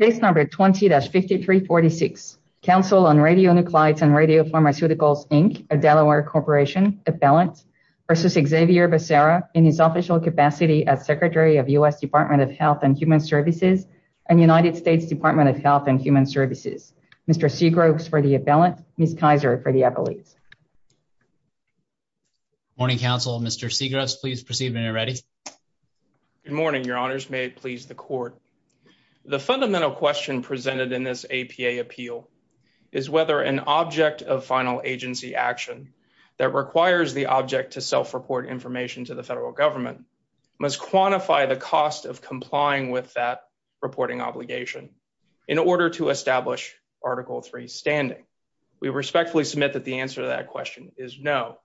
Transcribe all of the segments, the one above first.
Case number 20-5346. Council on Radionuclides and Radiopharmaceuticals Inc. of Delaware Corporation Appellant v. Xavier Becerra in his official capacity as Secretary of U.S. Department of Health and Human Services and United States Department of Health and Human Services. Mr. Seagroves for the Appellant, Ms. Kaiser for the Appellate. Morning, Council. Mr. Seagroves, please proceed when you're ready. Good morning, Your Honors. May it please the Court. The fundamental question presented in this APA appeal is whether an object of final agency action that requires the object to self-report information to the federal government must quantify the cost of complying with that reporting obligation in order to establish Article III standing. We respectfully submit that the answer to that question is no.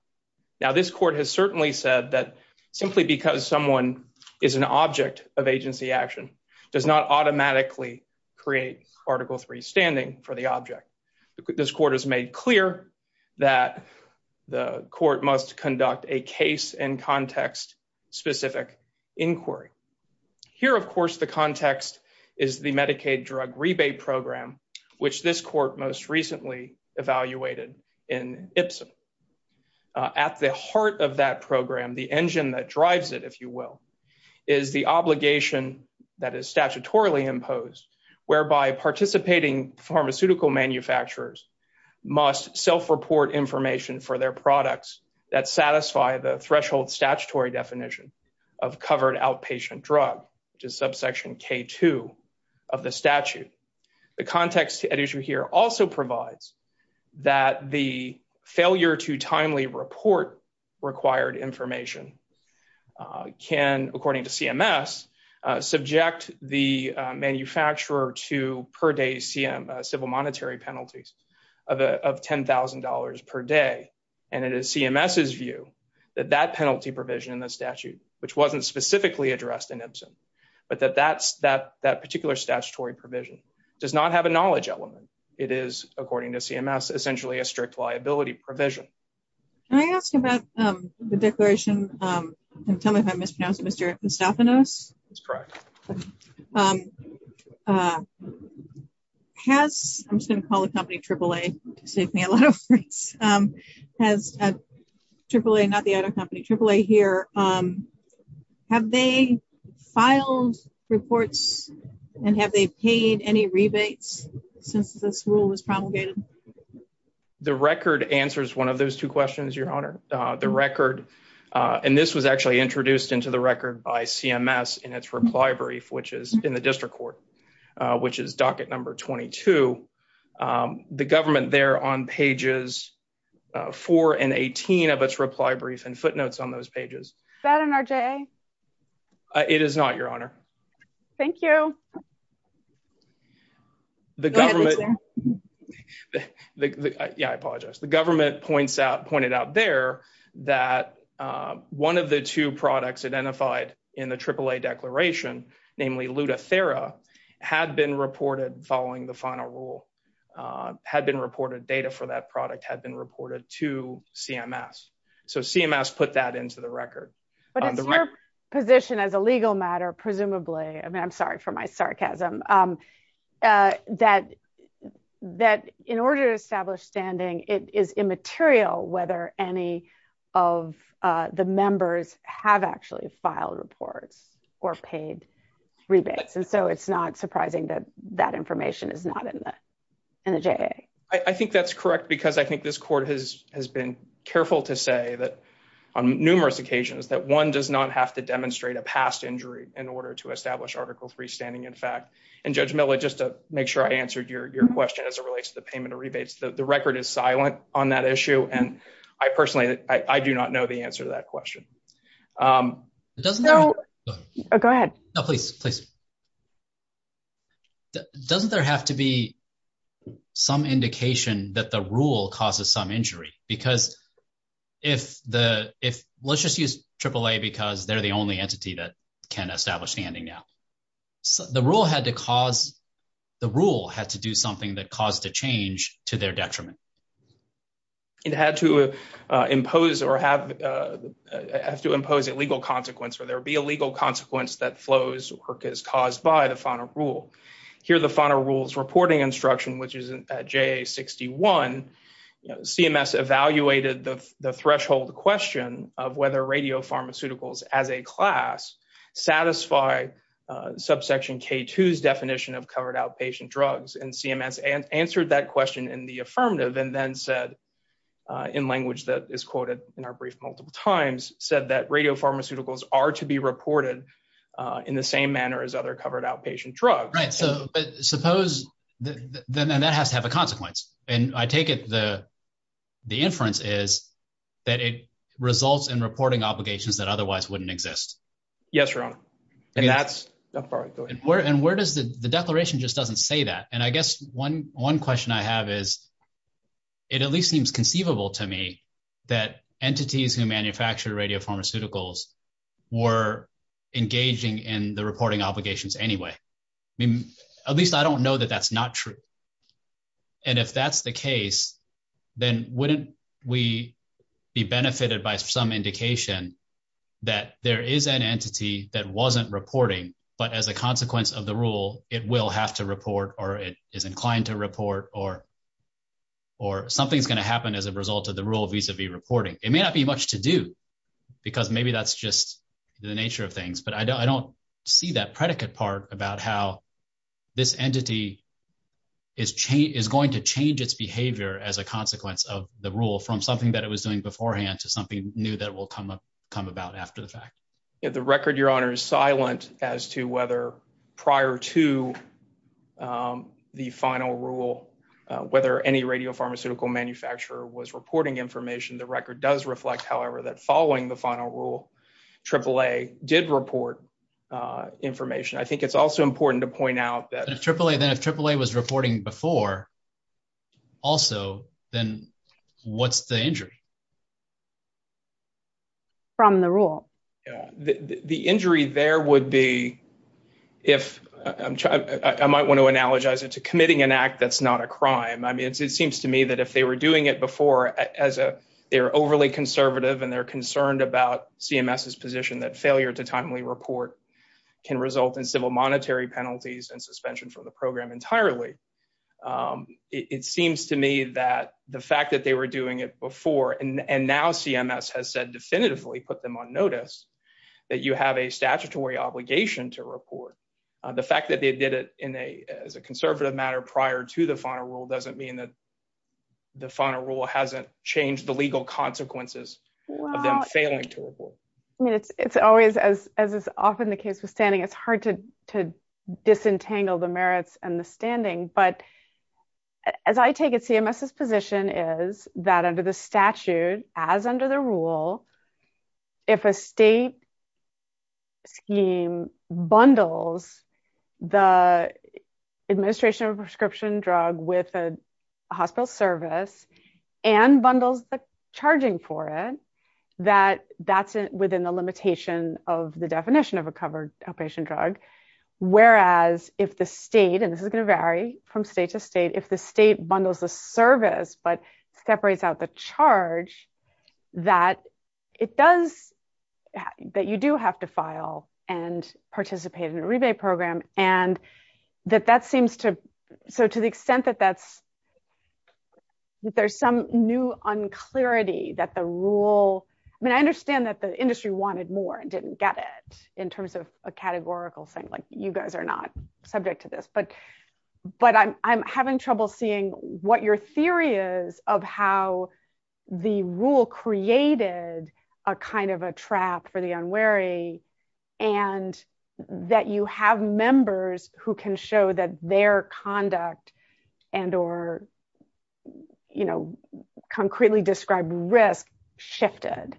Now, this Court has certainly said that simply because someone is an object of agency action does not automatically create Article III standing for the object. This Court has made clear that the Court must conduct a case and context-specific inquiry. Here, of course, the context is the Medicaid drug rebate program, which this Court most recently evaluated in Ipsen. At the heart of that program, the engine that drives it, if you will, is the obligation that is statutorily imposed whereby participating pharmaceutical manufacturers must self-report information for their products that satisfy the threshold statutory definition of covered outpatient drug, which is subsection K2 of the statute. The context at issue here also provides that the failure to timely report required information can, according to CMS, subject the manufacturer to per day civil monetary penalties of $10,000 per day. It is CMS's view that that penalty provision in the statute, which was not specifically addressed in Ipsen, but that that particular statutory provision does not have a knowledge element. It is, according to CMS, essentially a strict liability provision. Can I ask about the declaration and tell me if I mispronounced Mr. Moustaphanos? That's correct. Has, I'm just going to call the company AAA to save me a lot of words, has AAA, not the reports, and have they paid any rebates since this rule was promulgated? The record answers one of those two questions, Your Honor. The record, and this was actually introduced into the record by CMS in its reply brief, which is in the district court, which is docket number 22. The government there on pages four and 18 of its reply brief and Thank you. Yeah, I apologize. The government pointed out there that one of the two products identified in the AAA declaration, namely Lutathera, had been reported following the final rule, had been reported, data for that product had been reported to CMS. So CMS put that into the record. But it's your position as a legal matter, presumably, I mean, I'm sorry for my sarcasm, that in order to establish standing, it is immaterial whether any of the members have actually filed reports or paid rebates. And so it's not surprising that that information is not in the JA. I think that's correct, because I think this court has been careful to say that on numerous occasions that one does not have to demonstrate a past injury in order to establish Article III standing in fact. And Judge Miller, just to make sure I answered your question as it relates to the payment of rebates, the record is silent on that issue. And I personally, I do not know the answer to that question. Go ahead. No, please, please. Doesn't there have to be some indication that the rule causes some injury? Because if the, if, let's just use AAA because they're the only entity that can establish standing now. The rule had to cause, the rule had to do something that caused a change to their detriment. It had to impose or have, have to impose a legal consequence or there be a legal consequence that flows or is caused by the final rule. Here the final rule's reporting instruction, which is JA61, CMS evaluated the threshold question of whether radiopharmaceuticals as a class satisfy subsection K2's definition of covered outpatient drugs. And CMS answered that question in the affirmative and then said, in language that is quoted in our brief multiple times, said that radiopharmaceuticals are to be reported in the same manner as other covered outpatient drugs. So suppose then that has to have a consequence and I take it the, the inference is that it results in reporting obligations that otherwise wouldn't exist. Yes, your honor. And that's and where does the, the declaration just doesn't say that. And I guess one, one question I have is it at least seems conceivable to me that entities who manufacture radiopharmaceuticals were engaging in the reporting obligations anyway. I mean, at least I don't know that that's not true. And if that's the case, then wouldn't we be benefited by some indication that there is an entity that wasn't reporting, but as a consequence of the rule, it will have to report or it is inclined to report or, or something's going to happen as a result of the reporting. It may not be much to do because maybe that's just the nature of things, but I don't, I don't see that predicate part about how this entity is chain is going to change its behavior as a consequence of the rule from something that it was doing beforehand to something new that will come up, come about after the fact. Yeah. The record your honor is silent as to whether prior to, um, the final rule, uh, whether any radio pharmaceutical manufacturer was reporting information. The record does reflect, however, that following the final rule, AAA did report, uh, information. I think it's also important to point out that AAA then if AAA was reporting before also, then what's the injury from the rule. Yeah. The, the, the injury there would be if I'm trying, I might want to analogize it to committing an act. That's not a crime. I mean, it's, it seems to me that if they were doing it before as a, they were overly conservative and they're concerned about CMS's position that failure to timely report can result in civil monetary penalties and suspension from the program entirely. Um, it, it seems to me that the fact that they were doing it before and, and now CMS has said definitively put them on notice that you have a statutory obligation to report. Uh, the fact that they did it in a, as a conservative matter prior to the final rule, doesn't mean that the final rule hasn't changed the legal consequences of them failing to report. I mean, it's, it's always as, as is often the case with standing, it's hard to, to disentangle the merits and the standing. But as I take it, CMS's position is that under the bundles, the administration of a prescription drug with a hospital service and bundles the charging for it, that that's within the limitation of the definition of a covered outpatient drug. Whereas if the state, and this is going to vary from state to state, if the state bundles the charge, that it does, that you do have to file and participate in a rebate program. And that, that seems to, so to the extent that that's, that there's some new unclarity that the rule, I mean, I understand that the industry wanted more and didn't get it in terms of a categorical thing. Like you guys are not subject to this, but, but I'm, I'm having trouble seeing what your theory is of how the rule created a kind of a trap for the unwary and that you have members who can show that their conduct and, or, you know, concretely described risk shifted.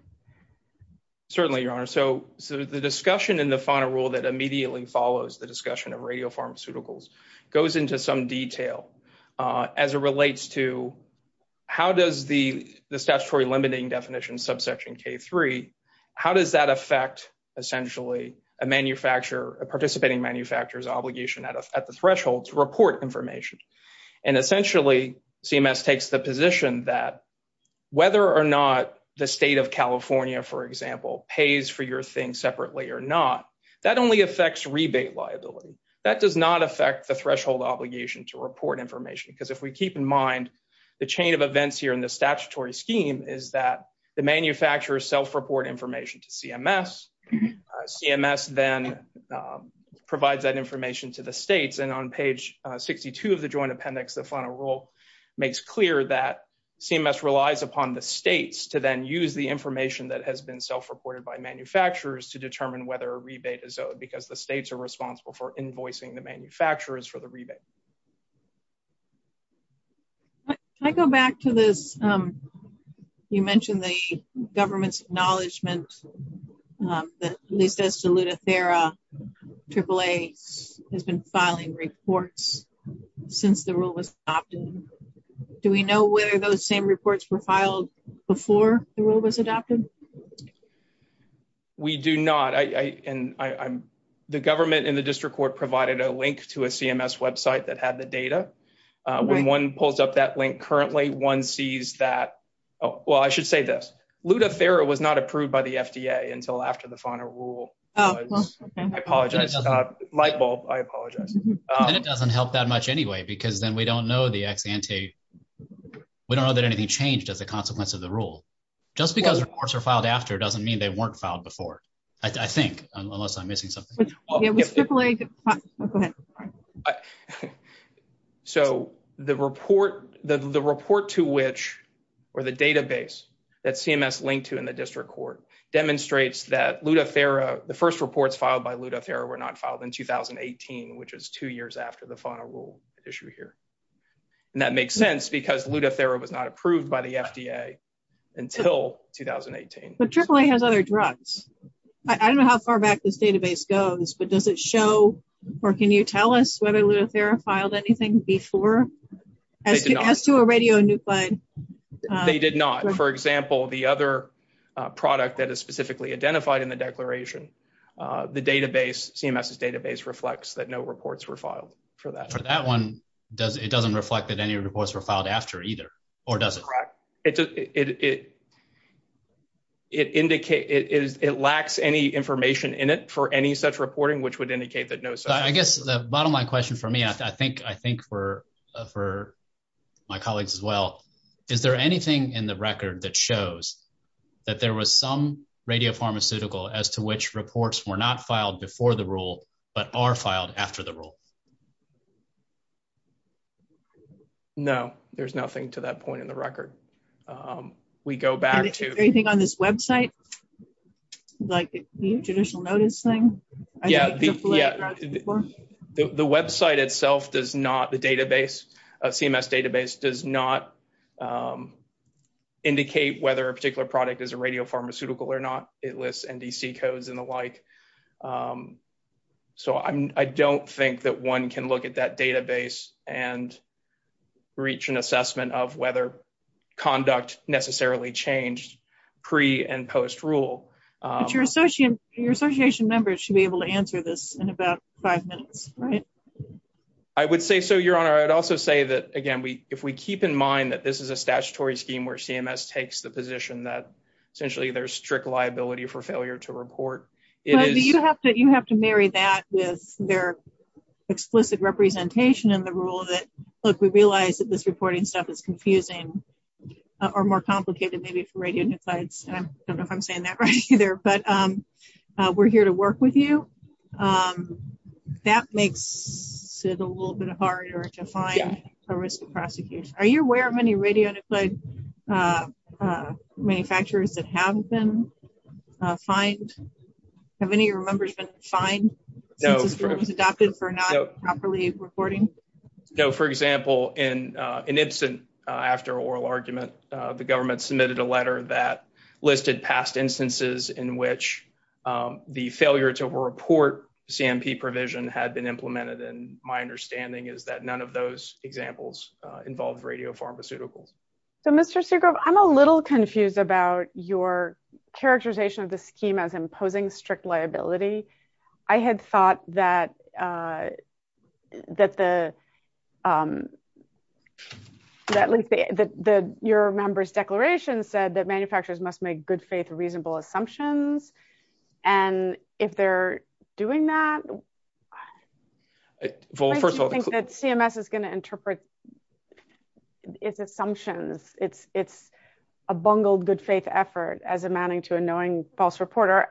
Certainly, your honor. So, so the discussion in the final rule that immediately follows the how does the, the statutory limiting definition subsection K3, how does that affect essentially a manufacturer, a participating manufacturer's obligation at the threshold to report information? And essentially CMS takes the position that whether or not the state of California, for example, pays for your thing separately or not, that only affects rebate liability. That does not affect the threshold obligation to report information. Because if we keep in mind the chain of events here in the statutory scheme is that the manufacturers self-report information to CMS. CMS then provides that information to the states. And on page 62 of the joint appendix, the final rule makes clear that CMS relies upon the states to then use the information that has been self-reported by manufacturers to determine whether a rebate is owed because the states are the ones who are paying for the rebate. Can I go back to this? You mentioned the government's acknowledgement that at least Estaluda, Thera, AAA has been filing reports since the rule was adopted. Do we know whether those same reports were filed before the rule was adopted? We do not. The government and the district court provided a link to a CMS website that had the data. When one pulls up that link currently, one sees that, well, I should say this, Estaluda, Thera was not approved by the FDA until after the final rule. I apologize, light bulb, I apologize. And it doesn't help that much anyway, because then we don't know that anything changed as a consequence of the rule. Just because reports are filed after doesn't mean they weren't filed before, I think, unless I'm missing something. So the report to which, or the database that CMS linked to in the district court demonstrates that Estaluda, Thera, the first reports filed by Estaluda, Thera were not filed in 2018, which is two years after the FDA until 2018. But AAA has other drugs. I don't know how far back this database goes, but does it show, or can you tell us whether Estaluda, Thera filed anything before as to a radionuclide? They did not. For example, the other product that is specifically identified in the declaration, the database, CMS's database reflects that no reports were filed for that. For that one, it doesn't reflect that any reports were filed after either, or does it? It lacks any information in it for any such reporting, which would indicate that no such. I guess the bottom line question for me, I think for my colleagues as well, is there anything in the record that shows that there was some radiopharmaceutical as to which reports were not filed before the rule, but are filed after the rule? No, there's nothing to that point in record. We go back to- Is there anything on this website, like the judicial notice thing? Yeah, the website itself does not, the database, a CMS database does not indicate whether a particular product is a radiopharmaceutical or not. It lists NDC codes and the like. So I don't think that one can look at that database and reach an assessment of whether conduct necessarily changed pre and post rule. Your association members should be able to answer this in about five minutes, right? I would say so, Your Honor. I would also say that, again, if we keep in mind that this is a statutory scheme where CMS takes the position that essentially there's strict liability for failure to report, it is- You have to marry that with their reporting stuff is confusing or more complicated maybe for radionuclides. I don't know if I'm saying that right either, but we're here to work with you. That makes it a little bit harder to find a risk of prosecution. Are you aware of any radionuclide manufacturers that have been fined? Have any of your members been fined since this rule was adopted for not properly reporting? No. For example, in Ibsen, after oral argument, the government submitted a letter that listed past instances in which the failure to report CMP provision had been implemented. And my understanding is that none of those examples involved radiopharmaceuticals. So Mr. Sugrov, I'm a little confused about your characterization of the scheme as imposing strict liability. I had thought that your member's declaration said that manufacturers must make good faith reasonable assumptions. And if they're doing that- Well, first of all- I don't think that CMS is going to interpret its assumptions. It's a bungled good faith effort as amounting to a knowing false reporter.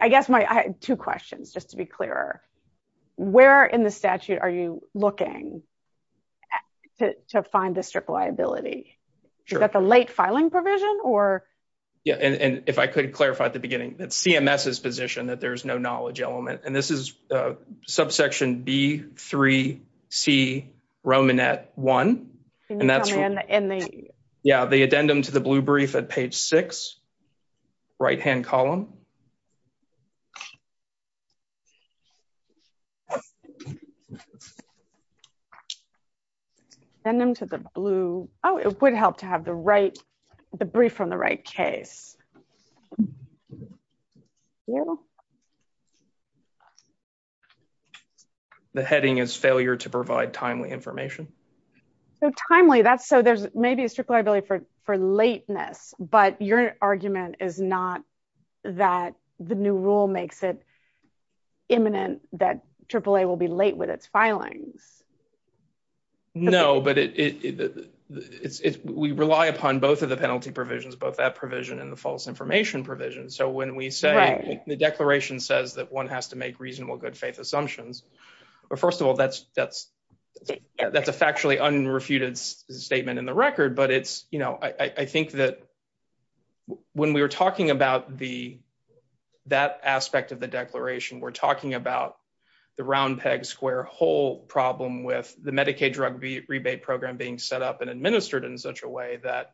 I guess I have two questions, just to be clearer. Where in the statute are you looking to find the strict liability? Is that the late filing provision or- Yeah. And if I could clarify at the beginning, it's CMS's position that there's no knowledge element. And this is a subsection B3C Romanet 1. And that's- Can you tell me in the- Right-hand column. Send them to the blue. Oh, it would help to have the brief from the right case. The heading is failure to provide timely information. So timely. So there's maybe a strict liability for lateness, but your argument is not that the new rule makes it imminent that AAA will be late with its filings. No, but we rely upon both of the penalty provisions, both that provision and the false information provision. So when we say the declaration says that one has to make reasonable good faith assumptions, well, first of all, that's a factually unrefuted statement in the record. But I think that when we were talking about that aspect of the declaration, we're talking about the round peg square hole problem with the Medicaid drug rebate program being set up and administered in such a way that,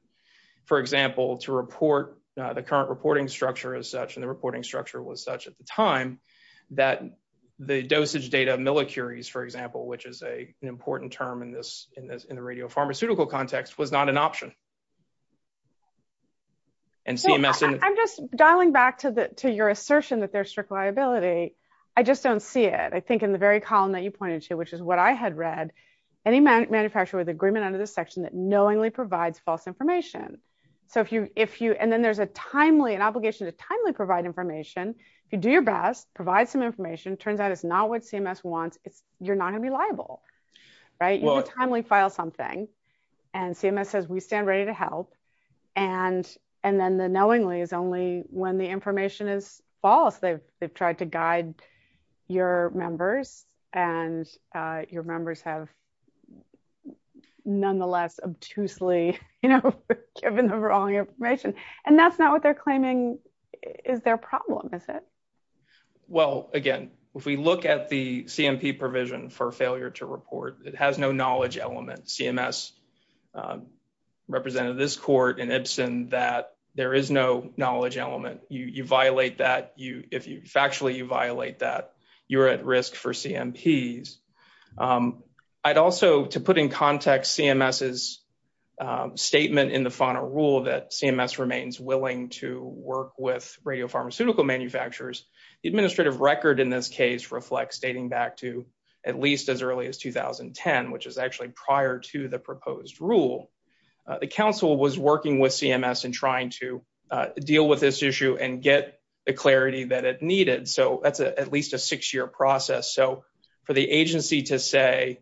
for example, to report the current reporting structure as such, and the reporting structure was such at the time, that the dosage data millicuries, for example, which is an important term in the radiopharmaceutical context, was not an option. And CMS- I'm just dialing back to your assertion that there's strict liability. I just don't see it. I think in the very column that you pointed to, which is what I had read, any manufacturer with agreement under this section that knowingly provides false information. So if you- and then there's a timely, an obligation to timely provide information. If you do your best, provide some information, turns out it's not what CMS wants, you're not going to be liable, right? You need to timely file something. And CMS says, we stand ready to help. And then the knowingly is only when the information is false. They've tried to guide your members and your members have nonetheless obtusely given the wrong information. And that's not what they're claiming is their problem, is it? Well, again, if we look at the CMP provision for failure to report, it has no knowledge element. CMS represented this court in Ibsen that there is no knowledge element. You violate that. Factually, you violate that. You're at risk for CMPs. I'd also, to put in context CMS's statement in the final rule that CMS remains willing to work with radiopharmaceutical manufacturers, the administrative record in this case reflects dating back to at least as early as 2010, which is actually prior to the proposed rule. The council was working with CMS in trying to deal with this issue and get the clarity that it needed. So that's at least a six-year process. So for the agency to say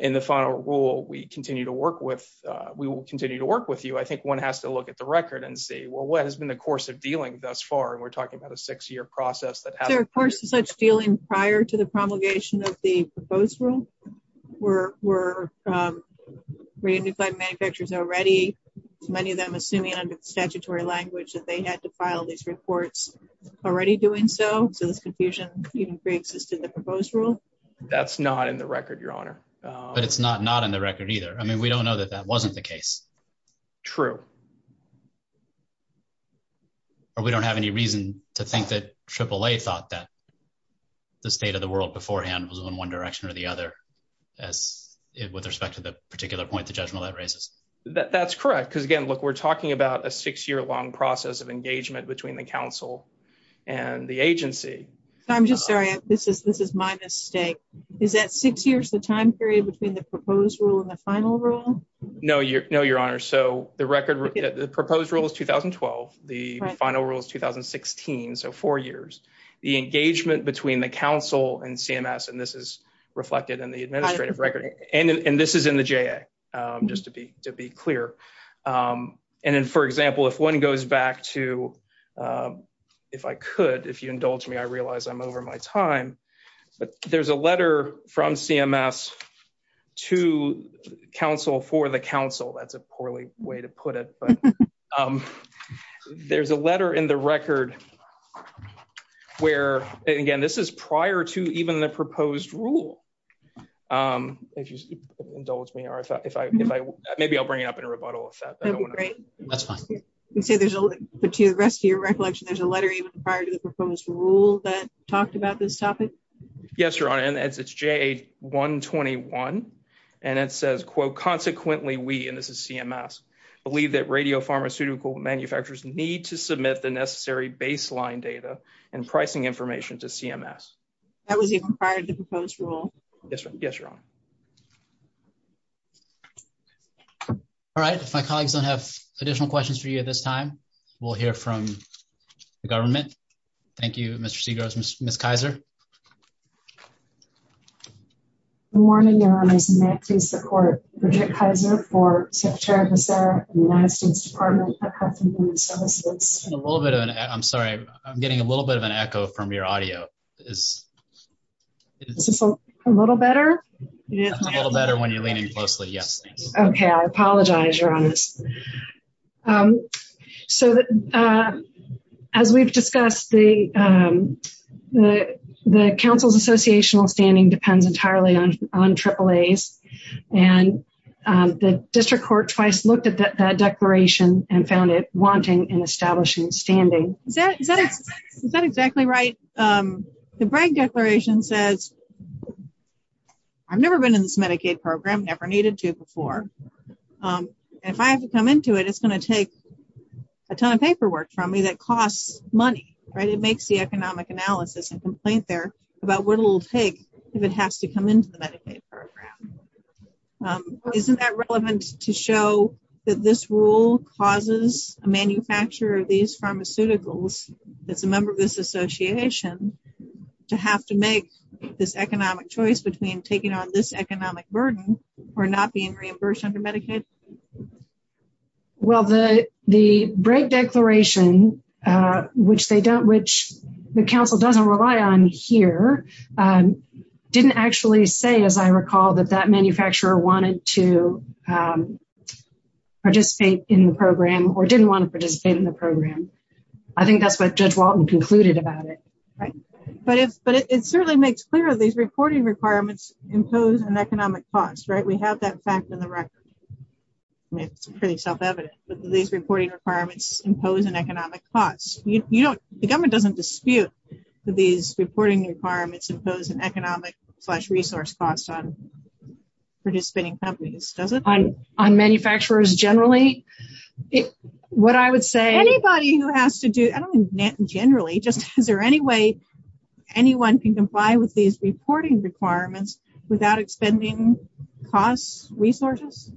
in the final rule, we will continue to work with you, I think one has to look at the record and see, well, what has been the course of dealing thus far? And we're talking about a six-year process. Is there a course of such dealing prior to the promulgation of the proposed rule? Were radionuclide manufacturers already, many of them assuming under statutory language that they had to file these reports already doing so, so this confusion even pre-existed the proposed rule? That's not in the record, Your Honor. But it's not not in the record either. I mean, we don't know that that wasn't the case. True. Or we don't have any reason to think that AAA thought that the state of the world beforehand was in one direction or the other, as with respect to the particular point, the judgment that raises. That's correct. Because again, look, we're talking about a six-year long process of engagement between the council and the agency. I'm just sorry. This is this is my mistake. Is that six years the time period between the proposed rule and the final rule? No, Your Honor. So the record, the proposed rule is 2012. The final rule is 2016. So four years. The engagement between the council and CMS, and this is reflected in the administrative record, and this is in the JA, just to be to be clear. And then, for example, if one goes back to, if I could, if you indulge me, I realize I'm over my time, but there's a letter from CMS to council for the council. That's a poorly way to put it, but there's a letter in the record where, again, this is prior to even the proposed rule. If you indulge me, or if I, if I, maybe I'll bring it up in a rebuttal. That's fine. But to the rest of your recollection, there's a letter even prior to the proposed rule that talked about this topic? Yes, Your Honor, and it's JA 121, and it says, quote, consequently, we, and this is CMS, believe that radio pharmaceutical manufacturers need to submit the necessary baseline data and pricing information to CMS. That was even prior to the proposed rule? Yes, Your Honor. All right. If my colleagues don't have additional questions for you at this time, we'll hear from the government. Thank you, Mr. Segros. Ms. Kaiser. Good morning, Your Honor. May I please support Bridget Kaiser for Secretary of the Center for the United States Department of Health and Human Services? A little bit of an, I'm sorry, I'm getting a little bit of an echo from your audio. Is this a little better? A little better when you're leaning closely, yes. Okay, I apologize, Your Honor. So, as we've discussed, the council's associational standing depends entirely on AAAs, and the district court twice looked at that declaration and found it wanting and establishing standing. Is that exactly right? The Bragg Declaration says, I've never been in this Medicaid program, never needed to before, and if I have to come into it, it's going to take a ton of paperwork from me that costs money, right? It makes the economic analysis and complaint there about what it'll take if it has to come into the Medicaid program. Isn't that relevant to show that this rule causes a manufacturer of these pharmaceuticals, that's a member of this association, to have to make this economic choice between taking on this economic burden or not being reimbursed under Medicaid? Well, the Bragg Declaration, which the council doesn't rely on here, didn't actually say, as I recall, that that manufacturer wanted to participate in the program or didn't want to participate in the program. I think that's what Judge Walton concluded about it, right? But it certainly makes clear these reporting requirements impose an economic cost, right? We have that fact in the record. It's pretty self-evident, but these reporting requirements impose an economic cost. The government doesn't dispute that these reporting requirements impose an economic slash resource cost on participating companies, does it? On manufacturers generally, what I would say... Anybody who has to do, I don't mean generally, just is there any way anyone can comply with these reporting requirements without expending costs, resources?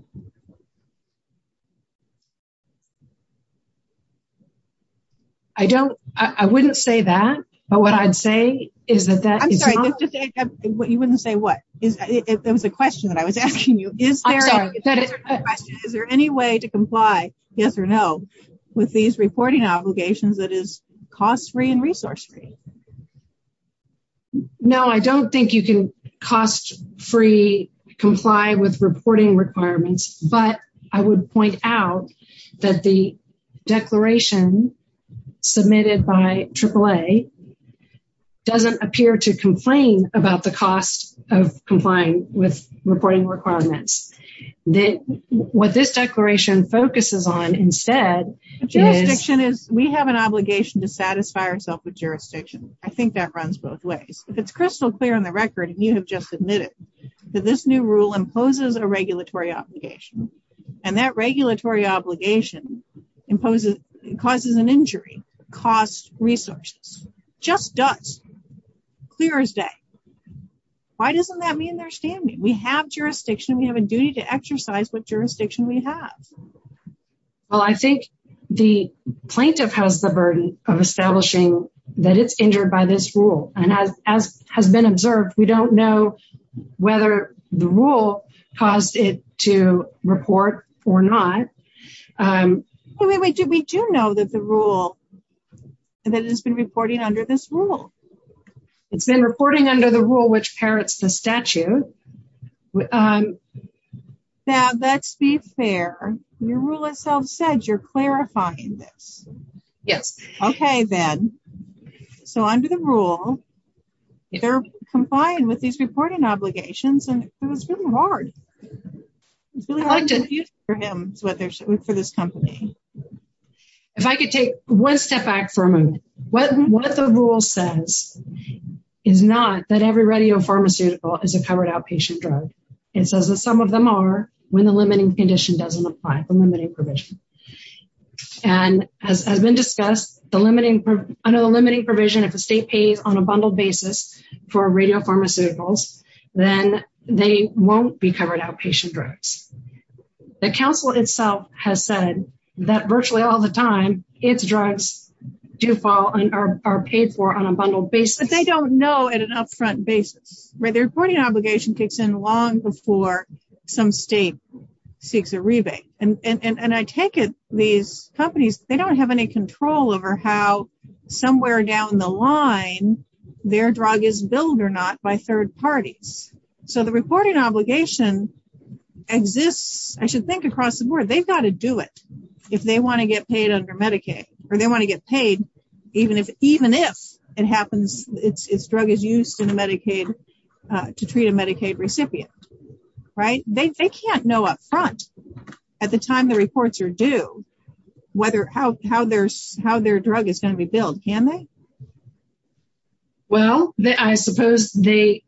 I don't, I wouldn't say that, but what I'd say is that... I'm sorry, you wouldn't say what? It was a question that I was asking you. Is there any way to comply, yes or no, with these reporting obligations that is cost-free and resource-free? No, I don't think you can cost-free comply with reporting requirements, but I would point out that the declaration submitted by AAA doesn't appear to complain about the cost of complying with reporting requirements. What this declaration focuses on instead... We have an obligation to satisfy ourselves with jurisdiction. I think that runs both ways. If it's crystal clear on the record, and you have just admitted that this new rule imposes a regulatory obligation, and that regulatory obligation causes an injury, costs resources. Just does. Clear as day. Why doesn't that mean they're standing? We have jurisdiction. We have duty to exercise what jurisdiction we have. Well, I think the plaintiff has the burden of establishing that it's injured by this rule. As has been observed, we don't know whether the rule caused it to report or not. We do know that the rule, that it has been reporting under this rule. It's been reporting under the rule which inherits the statute. Now, let's be fair. Your rule itself said you're clarifying this. Yes. Okay, then. So under the rule, they're complying with these reporting obligations, and it was really hard. It's really hard for him, for this company. If I could take one step back for a moment. What the rule says is not that every radiopharmaceutical is a covered outpatient drug. It says that some of them are when the limiting condition doesn't apply, the limiting provision. As has been discussed, under the limiting provision, if the state pays on a bundled basis for radiopharmaceuticals, then they won't be covered outpatient drugs. The council itself has said that virtually all the time, its drugs do fall and are paid for on a bundled basis. But they don't know at an upfront basis, right? The reporting obligation kicks in long before some state seeks a rebate. And I take it these companies, they don't have any control over how somewhere down the line their drug is billed or not by third parties. So the reporting obligation exists, I should think across the board, they've got to do it. If they want to get paid under Medicaid, or they want to get paid, even if it happens, it's drug is used in Medicaid to treat a Medicaid recipient, right? They can't know upfront at the time the reports are due, how their drug is going to be billed, can they? Well, I suppose they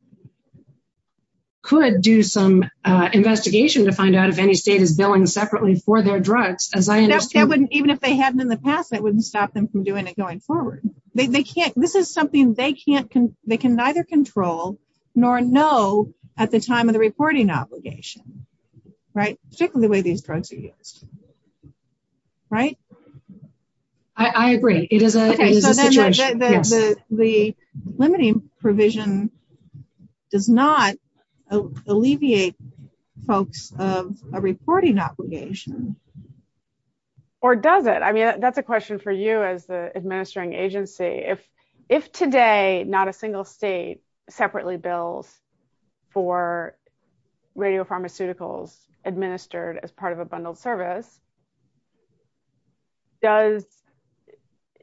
could do some investigation to find out if any state is billing separately for their drugs, as I understand. Even if they hadn't in the past, that wouldn't stop them from doing it going forward. They can't, this is something they can't, they can neither control nor know at the time of the reporting obligation, right? Particularly the way these drugs are used, right? I agree, it is a situation. The limiting provision does not alleviate folks of a reporting obligation. Or does it? I mean, that's a question for you as the administering agency. If today not a single state separately bills for radiopharmaceuticals administered as part of a bundled service, does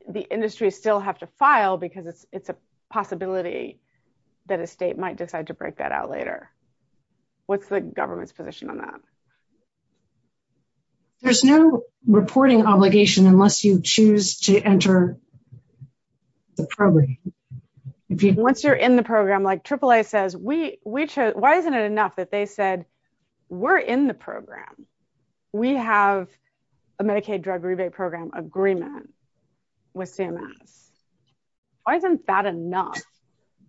the industry still have to file because it's a possibility that a state might decide to break that out later? What's the government's position on that? There's no reporting obligation unless you choose to enter the program. Once you're in the program, like AAA says, why isn't it enough that they said, we're in the program, we have a Medicaid drug rebate program agreement with CMS? Why isn't that enough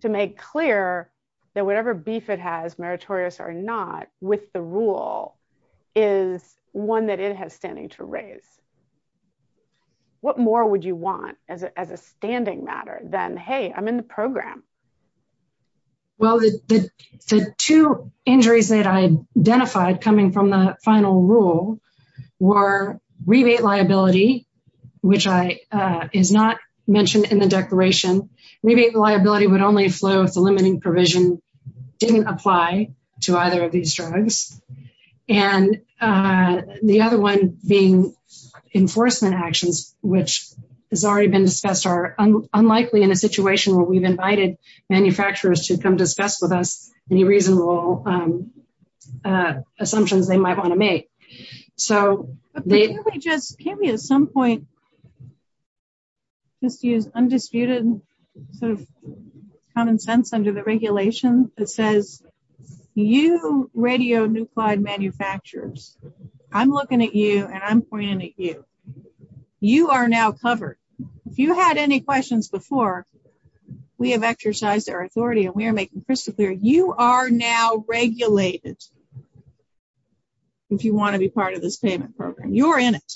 to make clear that whatever beef it has, meritorious or not, with the rule is one that it has standing to raise? What more would you want as a standing matter than, hey, I'm in the program? Well, the two injuries that I identified coming from the final rule were rebate liability, which is not mentioned in the declaration. Rebate liability would only flow if the limiting provision didn't apply to either of these drugs. And the other one being enforcement actions, which has already been discussed are unlikely in a situation where we've invited manufacturers to come discuss with us any reasonable assumptions they might want to make. Can't we at some point just use undisputed common sense under the regulation that says, you radionuclide manufacturers, I'm looking at you and I'm pointing at you. You are now covered. If you had any questions before, we have exercised our authority and we are making crystal clear, you are now regulated. If you want to be part of this payment program, you're in it.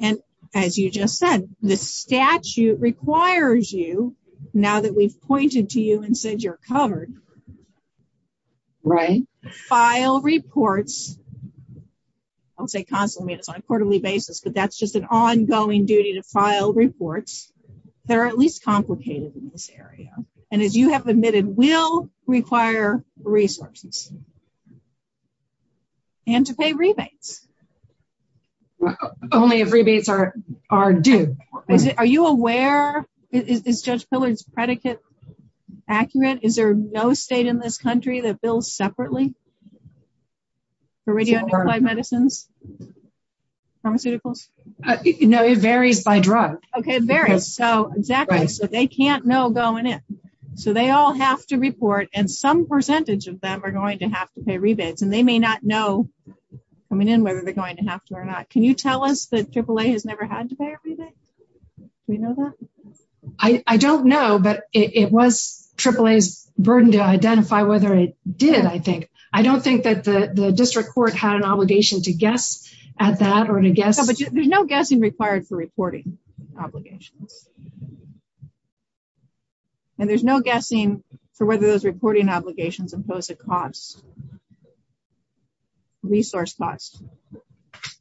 And as you just said, the statute requires you, now that we've pointed to you and said you're covered, file reports. I would say constantly on a quarterly basis, but that's just an ongoing duty to file reports that are at least complicated in this area. And as you have admitted, will require resources and to pay rebates. Only if rebates are due. Are you aware, is Judge Pillard's predicate accurate? Is there no state in this country that bills separately for radionuclide medicines, pharmaceuticals? No, it varies by drug. Okay, it varies. So exactly. So they can't know going in. So they all have to report and some percentage of them are going to have to pay rebates and they may not know coming in whether they're going to have to or not. Can you tell us that AAA has never had to pay a rebate? Do we know that? I don't know, but it was AAA's burden to identify whether it did, I think. I don't think that the district court had an obligation to guess at that or to guess. There's no guessing required for reporting obligations. And there's no guessing for whether those reporting obligations impose a cost, resource cost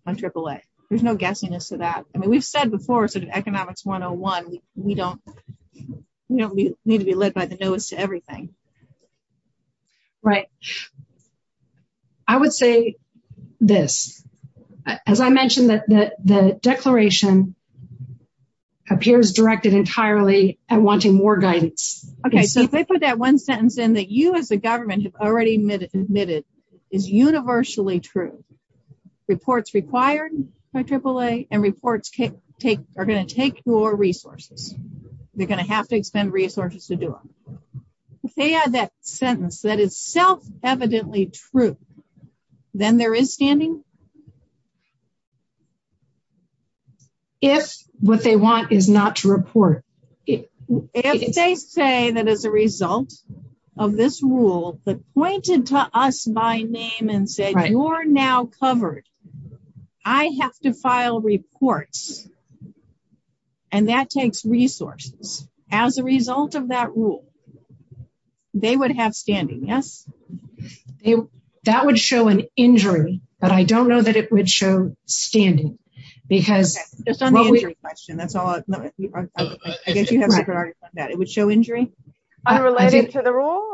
on AAA. There's no guessing as to that. I mean, we've said before, Economics 101, we don't need to be led by the knowest to everything. Right. I would say this. As I mentioned, the declaration appears directed entirely at wanting more guidance. Okay, so if I put that one sentence in that you as a government have already admitted is universally true. Reports required by AAA and reports are going to take more resources. They're going to have to expend resources to do it. If they add that sentence that is self-evidently true, then there is standing? If what they want is not to report. If they say that as a result of this rule that pointed to us by name and said, you're now covered, I have to file reports. And that takes resources. As a result of that rule, they would have standing, yes? That would show an injury, but I don't know that it would show standing. Okay, just on the injury question, that's all. I guess you have superiority on that. It would show injury unrelated to the rule?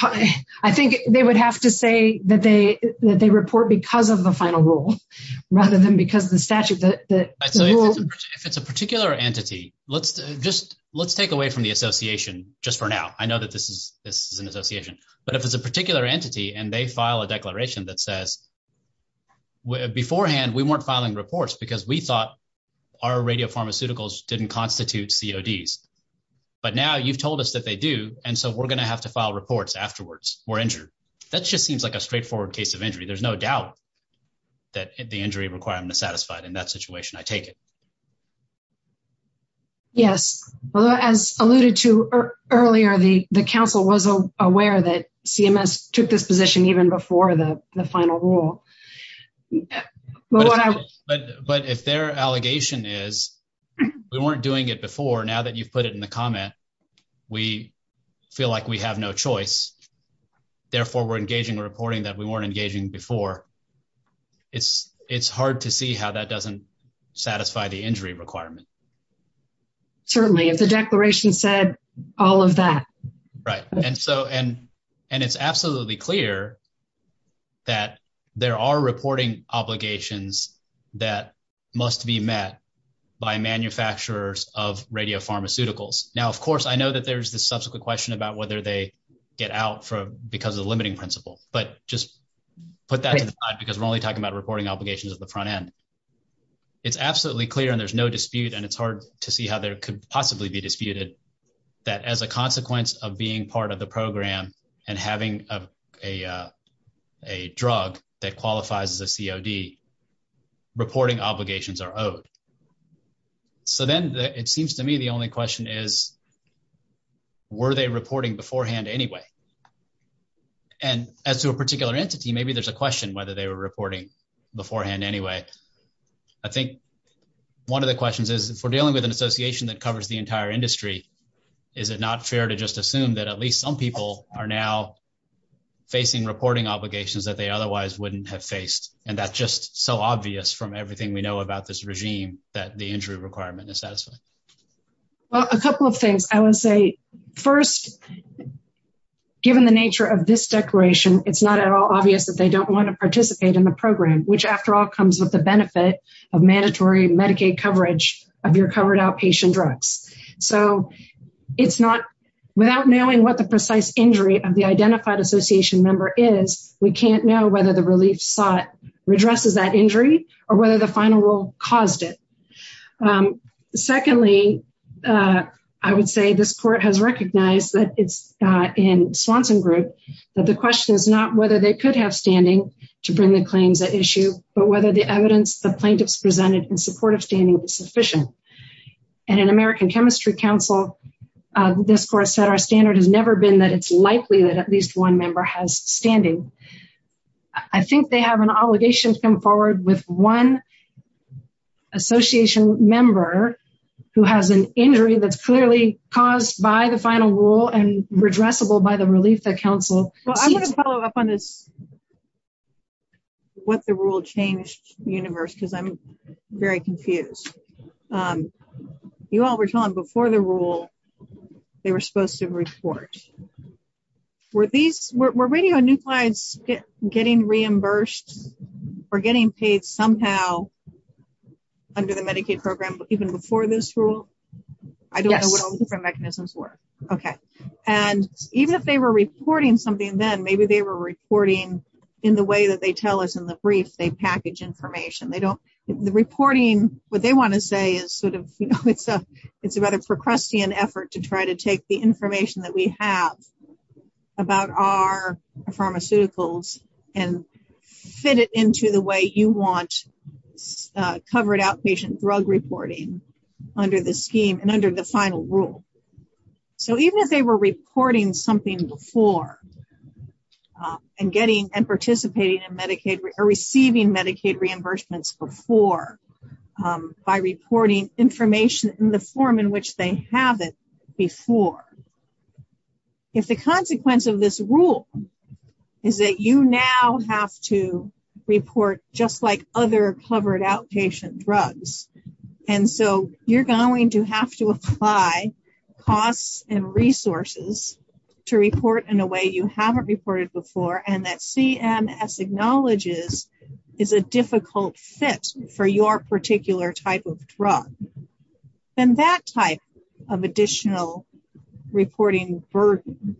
I think they would have to say that they report because of the final rule rather than because of the statute. If it's a particular entity, let's take away from the association just for now. I know that this is an association, but if it's a particular entity and they file a report that says, beforehand, we weren't filing reports because we thought our radio pharmaceuticals didn't constitute CODs. But now you've told us that they do, and so we're going to have to file reports afterwards. We're injured. That just seems like a straightforward case of injury. There's no doubt that the injury requirement is satisfied in that situation, I take it. Yes, as alluded to earlier, the council was aware that CMS took this position even before the final rule. But if their allegation is, we weren't doing it before, now that you've put it in the comment, we feel like we have no choice. Therefore, we're engaging in reporting that we weren't engaging before. It's hard to see how that doesn't satisfy the injury requirement. Certainly, if the declaration said all of that. Right, and it's absolutely clear that there are reporting obligations that must be met by manufacturers of radio pharmaceuticals. Now, of course, I know that there's this subsequent question about whether they get out because of the limiting principle, but just put that to the side because we're only talking about reporting obligations at the front end. It's absolutely clear, and there's no dispute, and it's hard to see how there could possibly be disputed, that as a consequence of being part of the program and having a drug that qualifies as a COD, reporting obligations are owed. So then, it seems to me the only question is, were they reporting beforehand anyway? And as to a particular entity, maybe there's a question whether they were reporting beforehand anyway. I think one of the questions is, if we're dealing with an association that covers the industry, is it not fair to just assume that at least some people are now facing reporting obligations that they otherwise wouldn't have faced? And that's just so obvious from everything we know about this regime that the injury requirement is satisfied. Well, a couple of things I would say. First, given the nature of this declaration, it's not at all obvious that they don't want to participate in the program, which after all comes with the benefit of mandatory Medicaid coverage of your covered outpatient drugs. So it's not, without knowing what the precise injury of the identified association member is, we can't know whether the relief sought redresses that injury or whether the final rule caused it. Secondly, I would say this court has recognized that it's in Swanson Group, that the question is not whether they could have standing to bring the claims at issue, but whether the evidence the plaintiffs presented in support of standing was sufficient. And in American Chemistry Council, this court said, our standard has never been that it's likely that at least one member has standing. I think they have an obligation to come forward with one association member who has an injury that's clearly caused by the final rule and redressable by the relief that counsel seeks. Well, I'm going to follow up on this, what the rule changed universe, because I'm very confused. You all were telling before the rule, they were supposed to report. Were these, were radio new clients getting reimbursed or getting paid somehow under the Medicaid program, even before this rule? I don't know what all the different mechanisms were. Okay. And even if they were reporting something then, maybe they were reporting in the way that they tell us in the brief, they package information. The reporting, what they want to say is sort of, it's about a Procrustean effort to try to take the information that we have about our pharmaceuticals and fit it into the way you want covered outpatient drug reporting under the scheme and under the final rule. So even if they were reporting something before and participating in Medicaid or receiving Medicaid reimbursements before, by reporting information in the form in which they have it before, if the consequence of this rule is that you now have to report just like other covered outpatient drugs. And so you're going to have to apply costs and resources to report in a way you haven't reported before. And that CMS acknowledges is a difficult fit for your particular type of drug. Then that type of additional reporting burden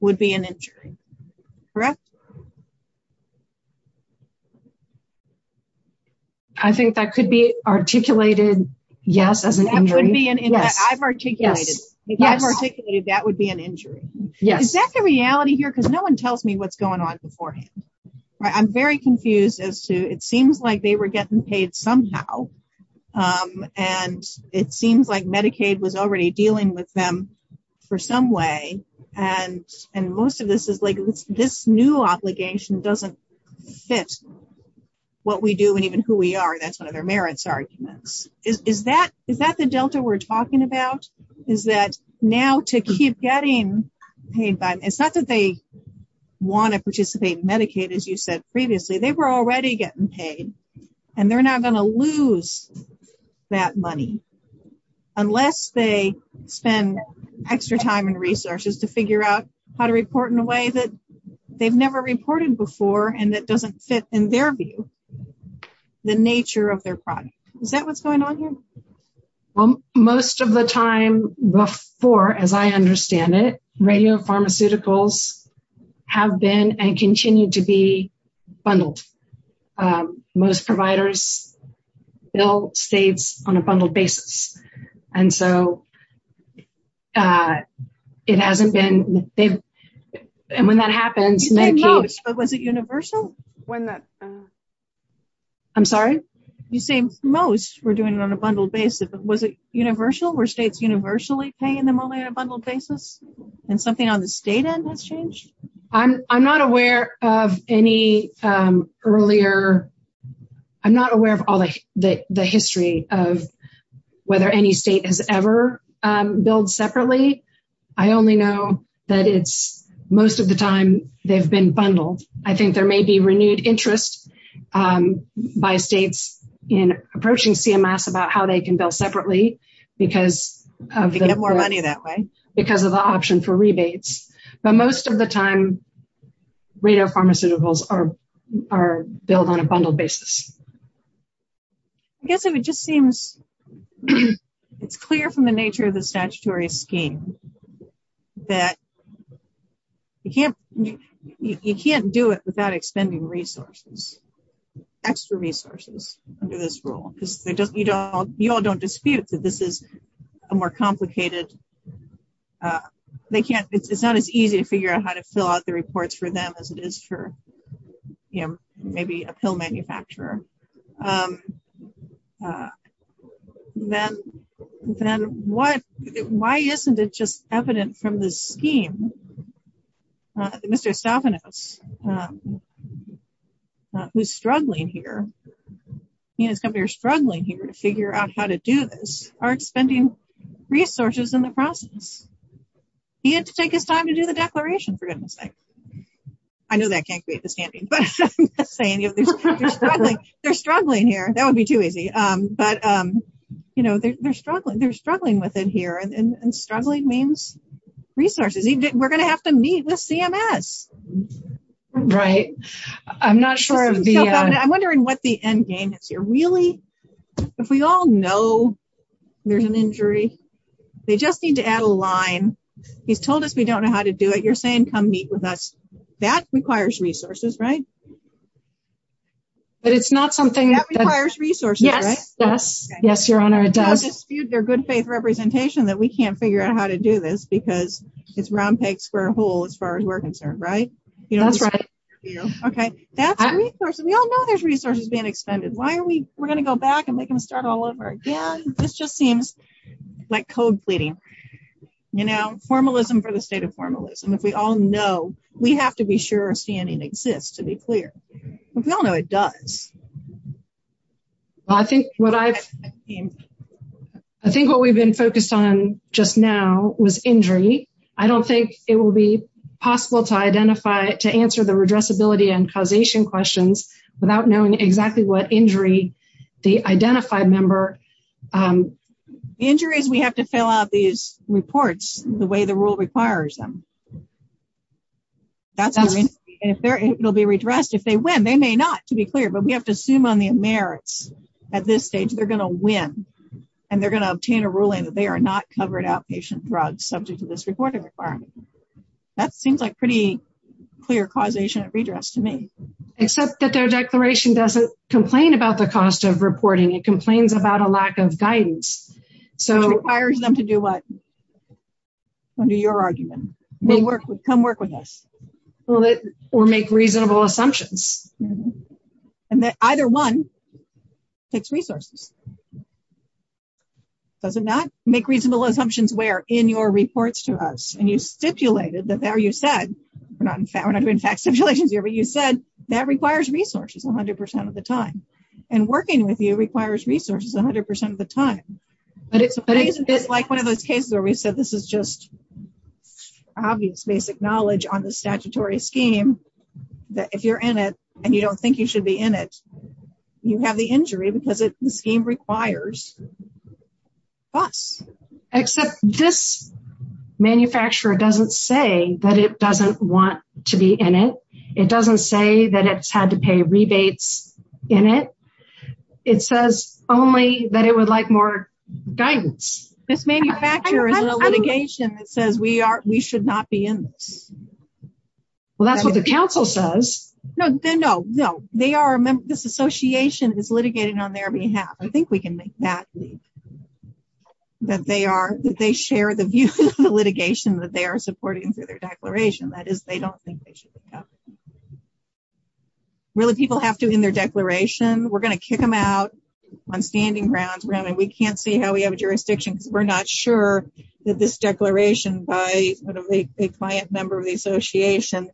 would be an injury, correct? I think that could be articulated, yes, as an injury. I've articulated that would be an injury. Yes. Is that the reality here? Because no one tells me what's going on beforehand. I'm very confused as to, it seems like they were getting paid somehow. And it seems like Medicaid was already dealing with them for some way. And most of this is like, this new obligation doesn't fit what we do and even who we are. That's one of their merits arguments. Is that the delta we're talking about? Is that now to keep getting paid by, it's not that they want to participate in Medicaid, as you said previously, they were already getting paid and they're not going to lose that money unless they spend extra time and resources to figure out how to report in a way that they've never reported before. And that doesn't fit in their view, the nature of their product. Is that what's going on here? Well, most of the time before, as I understand it, radio pharmaceuticals have been and continue to be bundled. Most providers bill states on a bundled basis. And so it hasn't been... And when that happens... You said most, but was it universal? I'm sorry? You say most were doing it on a bundled basis, but was it universal? Were states universally paying them only on a bundled basis and something on the state end has changed? I'm not aware of any earlier... I'm not aware of all the history of whether any state has ever billed separately. I only know that it's most of the time they've been bundled. I think there may be renewed interest by states in approaching CMS about how they can bill separately because of the option for rebates. But most of the time, radio pharmaceuticals are billed on a bundled basis. I guess it just seems it's clear from the nature of the statutory scheme that you can't do it without expending resources, extra resources under this rule. Because you all don't dispute that this is a more complicated... They can't... It's not as easy to figure out how to fill out the reports for them as it is for maybe a pill manufacturer. Then why isn't it just evident from the scheme? Mr. Estafanos, who's struggling here, he and his company are struggling here to figure out how to do this, are expending resources in the process. He had to take his time to do the declaration, for goodness sake. I know that can't create the standing, but I'm not saying they're struggling. They're struggling here. That would be too easy. But they're struggling. They're struggling with it here and struggling means resources. We're going to have to meet with CMS. Right. I'm not sure of the... I'm wondering what the end game is here. Really? If we all know there's an injury, they just need to add a line. He's told us we don't know how to do it. You're saying, come meet with us. That requires resources, right? But it's not something... That requires resources, right? Yes, yes. Yes, your honor, it does. I don't dispute their good faith representation that we can't figure out how to do this because it's round peg, square hole, as far as we're concerned, right? That's right. Okay. That's a resource. We all know there's resources being expended. Why are we... We're going to go back and make them start all over again. This just seems like code pleading. You know, formalism for the state of formalism. If we all know, we have to be sure our standing exists, to be clear. But we all know it does. I think what I've... I don't think it will be possible to identify... To answer the redressability and causation questions without knowing exactly what injury the identified member... Injuries, we have to fill out these reports the way the rule requires them. It'll be redressed if they win. They may not, to be clear, but we have to assume on the merits. At this stage, they're going to win and they're going to obtain a ruling that they are not covered outpatient drugs subject to this reporting requirement. That seems like pretty clear causation of redress to me. Except that their declaration doesn't complain about the cost of reporting. It complains about a lack of guidance. Which requires them to do what? Under your argument. Come work with us. Or make reasonable assumptions. And that either one takes resources. Does it not? Make reasonable assumptions where? In your reports to us. And you stipulated that there you said... We're not doing fact stipulations here. But you said that requires resources 100% of the time. And working with you requires resources 100% of the time. But it's like one of those cases where we said this is just obvious basic knowledge on the statutory scheme. That if you're in it and you don't think you should be in it, you have the injury. Because the scheme requires us. Except this manufacturer doesn't say that it doesn't want to be in it. It doesn't say that it's had to pay rebates in it. It says only that it would like more guidance. This manufacturer is in a litigation that says we should not be in this. Well, that's what the council says. No, no. This association is litigating on their behalf. I think we can make that. That they share the view of the litigation that they are supporting through their declaration. That is, they don't think they should. Really, people have to in their declaration. We're going to kick them out on standing grounds. We can't see how we have a jurisdiction. We're not sure that this declaration by a client member of the association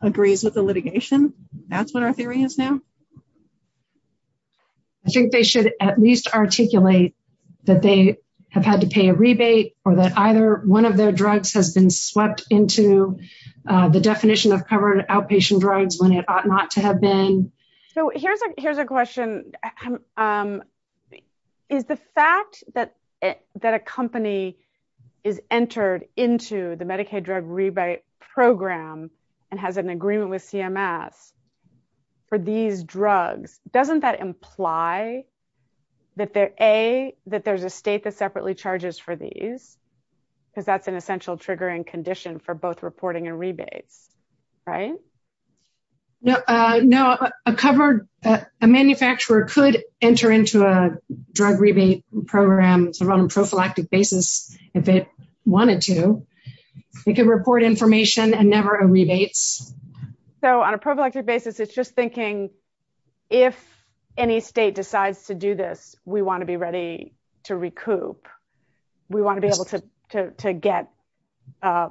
agrees with the litigation. That's what our theory is now. I think they should at least articulate that they have had to pay a rebate or that either one of their drugs has been swept into the definition of covered outpatient drugs when it ought not to have been. Here's a question. Is the fact that a company is entered into the Medicaid drug rebate program and has an MMS for these drugs, doesn't that imply that there's a state that separately charges for these because that's an essential triggering condition for both reporting and rebates, right? No, a manufacturer could enter into a drug rebate program on a prophylactic basis if they wanted to. They could report information and never a rebates. So on a prophylactic basis, it's just thinking if any state decides to do this, we want to be ready to recoup. We want to be able to get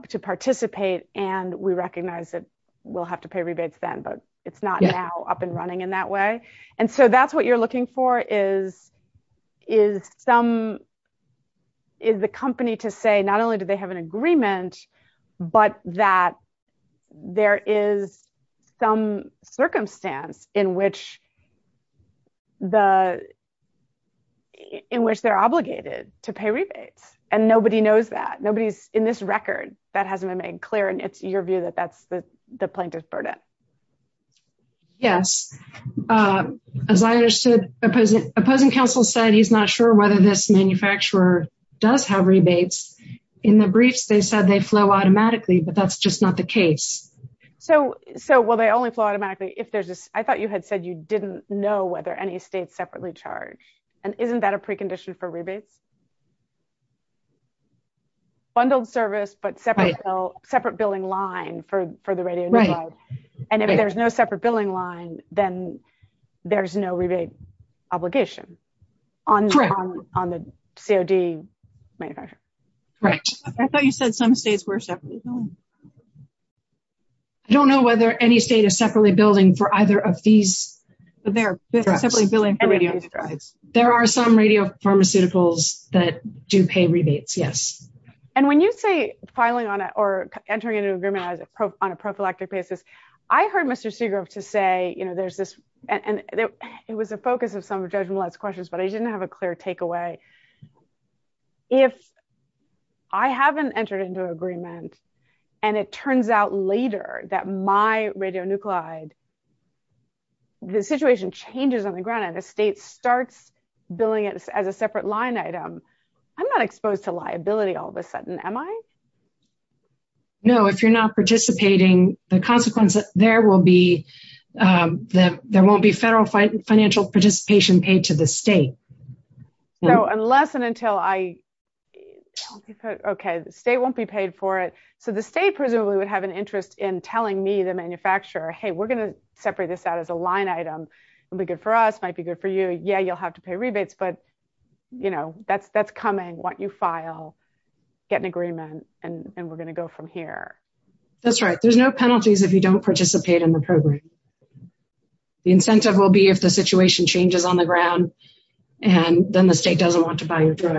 to participate and we recognize that we'll have to pay rebates then, but it's not now up and running in that way. And so that's what you're looking for is the company to say not only do they have an There is some circumstance in which they're obligated to pay rebates and nobody knows that. Nobody's in this record that hasn't been made clear and it's your view that that's the plaintiff's burden. Yes. As I understood, opposing counsel said he's not sure whether this manufacturer does have rebates. In the briefs, they said they flow automatically, but that's just not the case. So, well, they only flow automatically if there's this. I thought you had said you didn't know whether any states separately charge and isn't that a precondition for rebates? Bundled service, but separate billing line for the radio network. And if there's no separate billing line, then there's no rebate obligation on the COD manufacturer. Right. I thought you said some states were separately. I don't know whether any state is separately building for either of these. But they're simply billing for radio drives. There are some radio pharmaceuticals that do pay rebates. Yes. And when you say filing on it or entering into agreement on a prophylactic basis, I heard Mr. Seagrove to say, you know, there's this and it was a focus of some of Judge Millett's questions, but I didn't have a clear takeaway. If I haven't entered into agreement and it turns out later that my radionuclide, the situation changes on the ground and the state starts billing it as a separate line item, I'm not exposed to liability all of a sudden, am I? No, if you're not participating, the consequence there won't be federal financial participation paid to the state. So unless and until I, okay, the state won't be paid for it. So the state presumably would have an interest in telling me, the manufacturer, hey, we're going to separate this out as a line item. It'll be good for us, might be good for you. Yeah, you'll have to pay rebates. But, you know, that's coming. Why don't you file, get an agreement, and we're going to go from here. That's right. There's no penalties if you don't participate in the program. The incentive will be if the situation changes on the ground, and then the state doesn't want to buy your drug.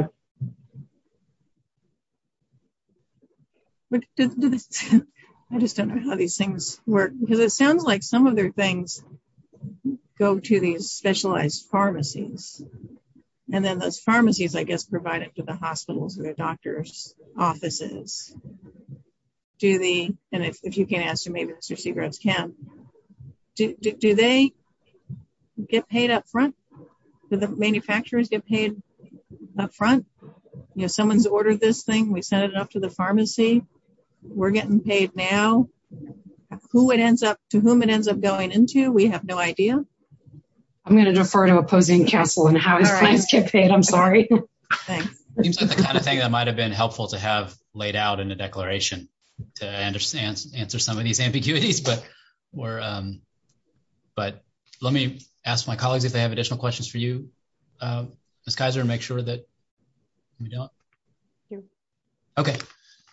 But I just don't know how these things work, because it sounds like some of their things go to these specialized pharmacies. And then those pharmacies, I guess, provide it to the hospitals or the doctors' offices. Do the, and if you can't answer, maybe Mr. Seagroves can, do they get paid up front? Do the manufacturers get paid up front? You know, someone's ordered this thing. We sent it off to the pharmacy. We're getting paid now. Who it ends up, to whom it ends up going into, we have no idea. I'm going to defer to opposing counsel on how his plans get paid. I'm sorry. Thanks. The kind of thing that might have been helpful to have laid out in the declaration to answer some of these ambiguities. But let me ask my colleagues if they have additional questions for you. Ms. Kaiser, make sure that we don't. Okay.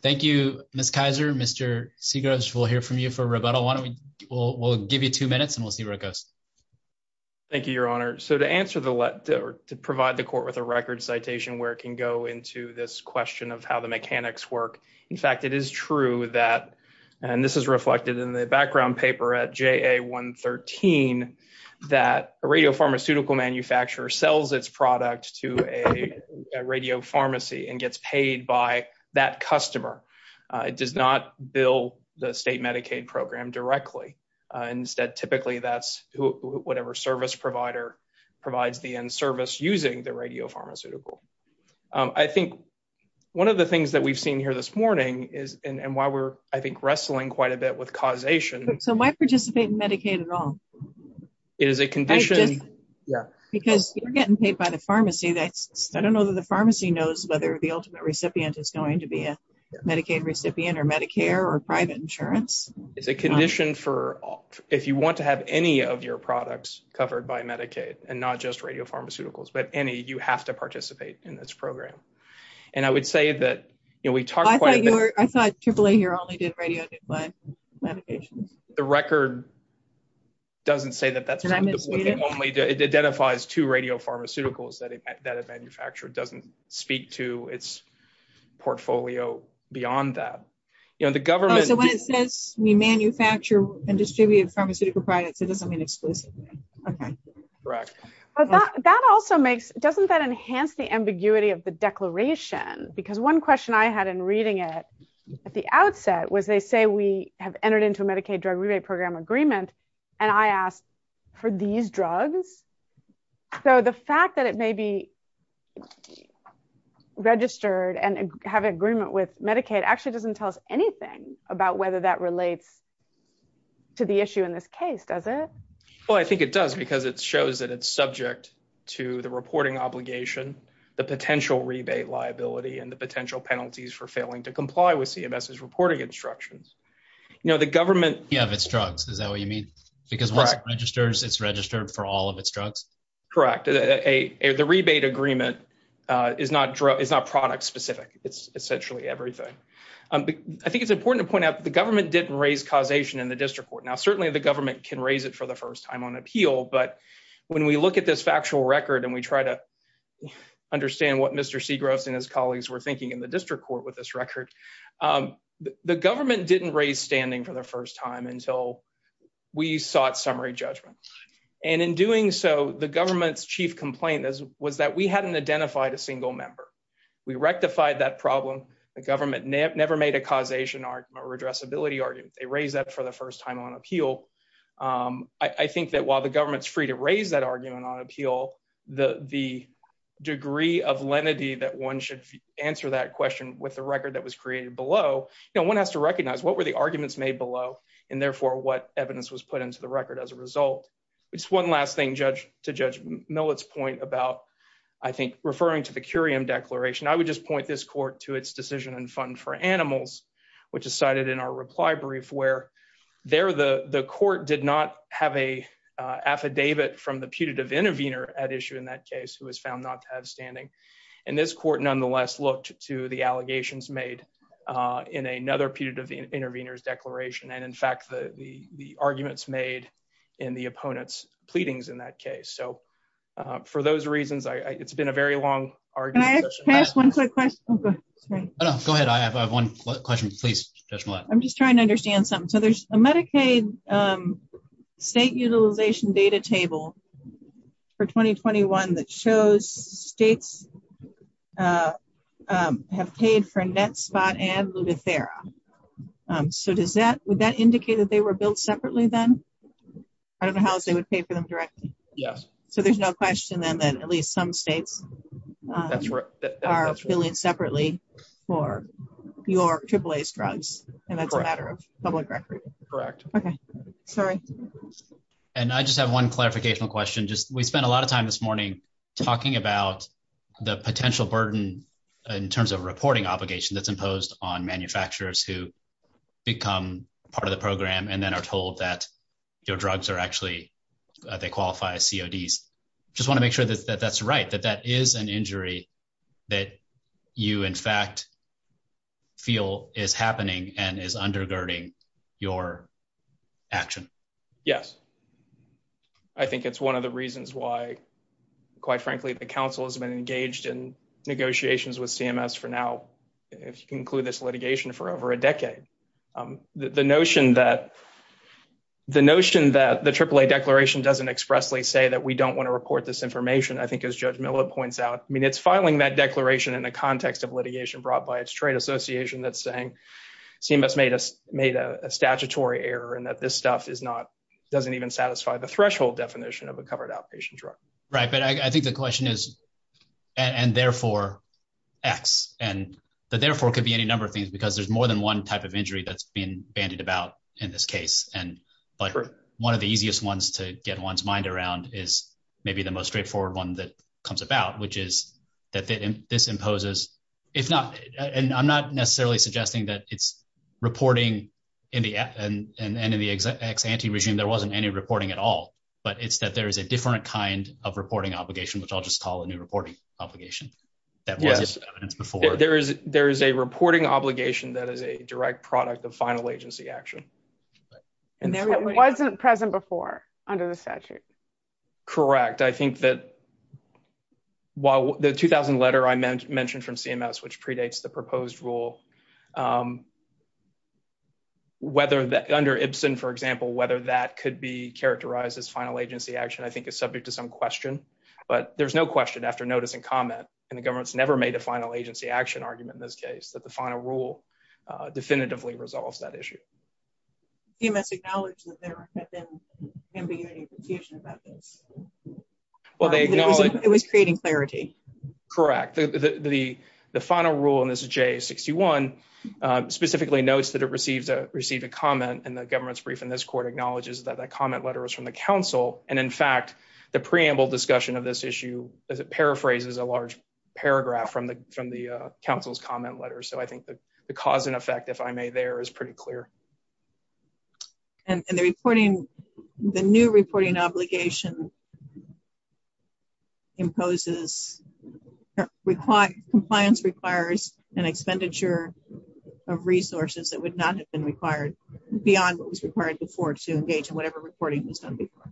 Thank you, Ms. Kaiser. Mr. Seagroves, we'll hear from you for rebuttal. Why don't we, we'll give you two minutes and we'll see where it goes. Thank you, Your Honor. So to answer the, to provide the court with a record citation where it can go into this question of how the mechanics work. In fact, it is true that, and this is reflected in the background paper at JA 113, that a radio pharmaceutical manufacturer sells its product to a radio pharmacy and gets paid by that customer. It does not bill the state Medicaid program directly. Instead, typically that's whatever service provider provides the end service using the radio pharmaceutical. I think one of the things that we've seen here this morning is, and why we're, I think, wrestling quite a bit with causation. So am I participating in Medicaid at all? It is a condition. Yeah. Because you're getting paid by the pharmacy that's, I don't know that the pharmacy knows whether the ultimate recipient is going to be a Medicaid recipient or Medicare or private insurance. It's a condition for, if you want to have any of your products covered by Medicaid and not just radio pharmaceuticals, but any, you have to participate in this program. And I would say that, you know, we talked quite a bit. I thought AAA here only did radio. The record doesn't say that that's what they only do. It identifies two radio pharmaceuticals that a manufacturer doesn't speak to its portfolio beyond that, you know, the government. So when it says we manufacture and distribute pharmaceutical products, it doesn't mean exclusively. Okay. Correct. But that also makes, doesn't that enhance the ambiguity of the declaration? Because one question I had in reading it at the outset was they say, we have entered into a Medicaid drug rebate program agreement. And I asked for these drugs. So the fact that it may be registered and have an agreement with Medicaid actually doesn't tell us anything about whether that relates to the issue in this case, does it? Well, I think it does because it shows that it's subject to the reporting obligation, the potential rebate liability, and the potential penalties for failing to comply with CMS's reporting instructions. You know, the government. Yeah. If it's drugs, is that what you mean? Because once it registers, it's registered for all of its drugs. Correct. The rebate agreement is not product specific. It's essentially everything. I think it's important to point out that the government didn't raise causation in the district court. Now, certainly the government can raise it for the first time on appeal. But when we look at this factual record and we try to understand what Mr. Segrost and his colleagues were thinking in the district court with this record, the government didn't raise standing for the first time until we sought summary judgment. And in doing so, the government's chief complaint was that we hadn't identified a single member. We rectified that problem. The government never made a causation argument or addressability argument. They raised that for the first time on appeal. I think that while the government's free to raise that argument on appeal, the degree of lenity that one should answer that question with the record that was created below, you know, one has to recognize what were the arguments made below and therefore what evidence was put into the record as a result. It's one last thing, Judge, to Judge Millett's point about, I think, referring to the Curiam declaration. I would just point this court to its decision and fund for animals, which is cited in our reply brief where there the court did not have an affidavit from the putative intervener at issue in that case who was found not to have standing. And this court nonetheless looked to the allegations made in another putative intervener's declaration. And in fact, the arguments made in the opponent's pleadings in that case. So for those reasons, it's been a very long argument. Can I ask one quick question? Go ahead. I have one question. Please, Judge Millett. I'm just trying to understand something. So there's a Medicaid state utilization data table for 2021 that shows states have paid for Netspot and Lutathera. So would that indicate that they were built separately then? I don't know how else they would pay for them directly. Yes. So there's no question then that at least some states are billing separately for your AAAS drugs. And that's a matter of public record. Correct. Okay, sorry. And I just have one clarificational question. Just we spent a lot of time this morning talking about the potential burden in terms of reporting obligation that's imposed on manufacturers who become part of the program and then are CODs. I just want to make sure that that's right, that that is an injury that you in fact feel is happening and is undergirding your action. Yes. I think it's one of the reasons why, quite frankly, the council has been engaged in negotiations with CMS for now, if you can include this litigation, for over a decade. The notion that the AAA declaration doesn't expressly say that we don't want to report this information, I think as Judge Miller points out, I mean, it's filing that declaration in the context of litigation brought by its trade association that's saying CMS made a statutory error and that this stuff doesn't even satisfy the threshold definition of a covered outpatient drug. Right. But I think the question is, and therefore, X. And the therefore could be any number of things because there's more than one type of injury that's been bandied about in this case. And but one of the easiest ones to get one's mind around is maybe the most straightforward one that comes about, which is that this imposes, if not, and I'm not necessarily suggesting that it's reporting and in the ex-ante regime, there wasn't any reporting at all, but it's that there is a different kind of reporting obligation, which I'll just call a new reporting obligation that wasn't evidenced before. There is a reporting obligation that is a direct product of final agency action. And it wasn't present before under the statute. Correct. I think that while the 2000 letter I mentioned from CMS, which predates the proposed rule, under Ibsen, for example, whether that could be characterized as final agency action, I think is subject to some question, but there's no question after notice and comment, and the government's never made a final agency action argument in this case, that the final rule definitively resolves that issue. CMS acknowledged that there had been ambiguity and confusion about this. Well, they acknowledged- It was creating clarity. Correct. The final rule in this JA-61 specifically notes that it received a comment, and the government's brief in this court acknowledges that that comment letter was from the council. And in fact, the preamble discussion of this issue, as it paraphrases a large paragraph from the council's comment letter. So I think the cause and effect, if I may, there is pretty clear. And the new reporting obligation imposes compliance requires an expenditure of resources that would not have been required beyond what was required before to engage in whatever reporting was done before.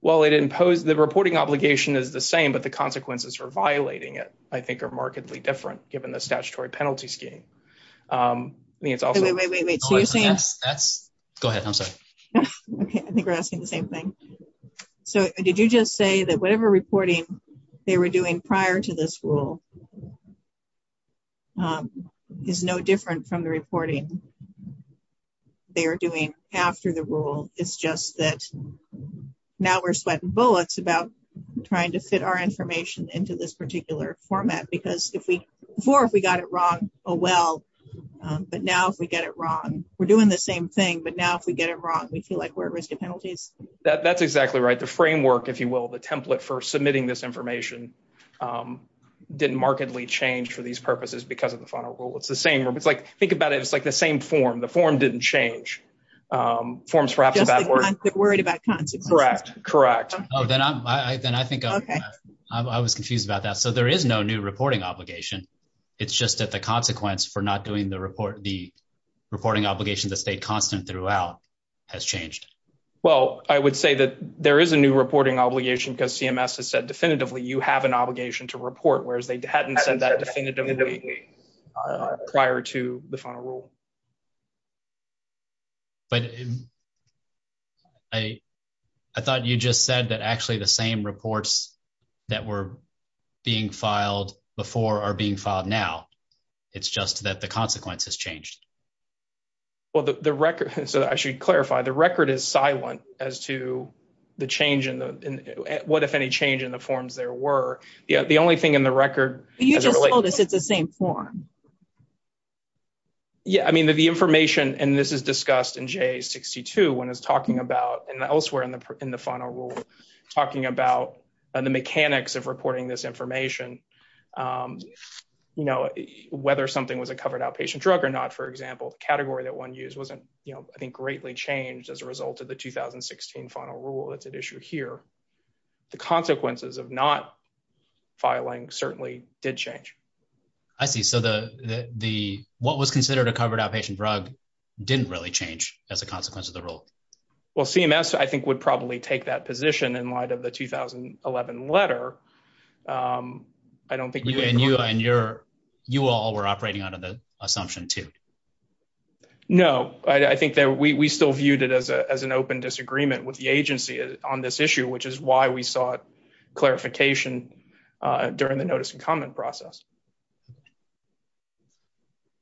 Well, the reporting obligation is the same, but the consequences for violating it, I think, are markedly different, given the statutory penalty scheme. I mean, it's also- Wait, wait, wait, wait. So you're saying- Go ahead. I'm sorry. Okay. I think we're asking the same thing. So did you just say that whatever reporting they were doing prior to this rule is no different from the reporting they are doing after the rule? It's just that now we're swiping bullets about trying to fit our information into this particular format, because before, if we got it wrong, oh, well, but now if we get it wrong, we're doing the same thing. But now if we get it wrong, we feel like we're at risk of penalties. That's exactly right. The framework, if you will, the template for submitting this information didn't markedly change for these purposes because of the final rule. It's the same. It's like, think about it. It's like the same form. The form didn't change. Forms perhaps- Just they're worried about consequences. Correct. Correct. Oh, then I think I was confused about that. So there is no new reporting obligation. It's just that the consequence for not doing the reporting obligation that stayed constant throughout has changed. Well, I would say that there is a new reporting obligation because CMS has said definitively, you have an obligation to report, whereas they hadn't said that definitively prior to the final rule. But I thought you just said that actually the same reports that were being filed before are being filed now. It's just that the consequence has changed. Well, the record, so I should clarify, the record is silent as to the change in the, what if any change in the forms there were. The only thing in the record- You just told us it's the same form. Yeah. I mean, the information, and this is discussed in J62 when it's talking about, and elsewhere in the final rule, talking about the mechanics of reporting this information, whether something was a covered outpatient drug or not, for example, the category that one used wasn't, I think, greatly changed as a result of the 2016 final rule that's at issue here. The consequences of not filing certainly did change. I see. The what was considered a covered outpatient drug didn't really change as a consequence of the rule. Well, CMS, I think, would probably take that position in light of the 2011 letter. I don't think- And you all were operating under the assumption too. No, I think that we still viewed it as an open disagreement with the agency on this issue, which is why we sought clarification during the notice and comment process.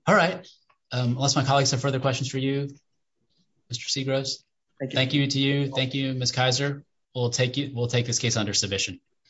All right. Unless my colleagues have further questions for you, Mr. Segrist, thank you to you. Thank you, Ms. Kaiser. We'll take this case under submission.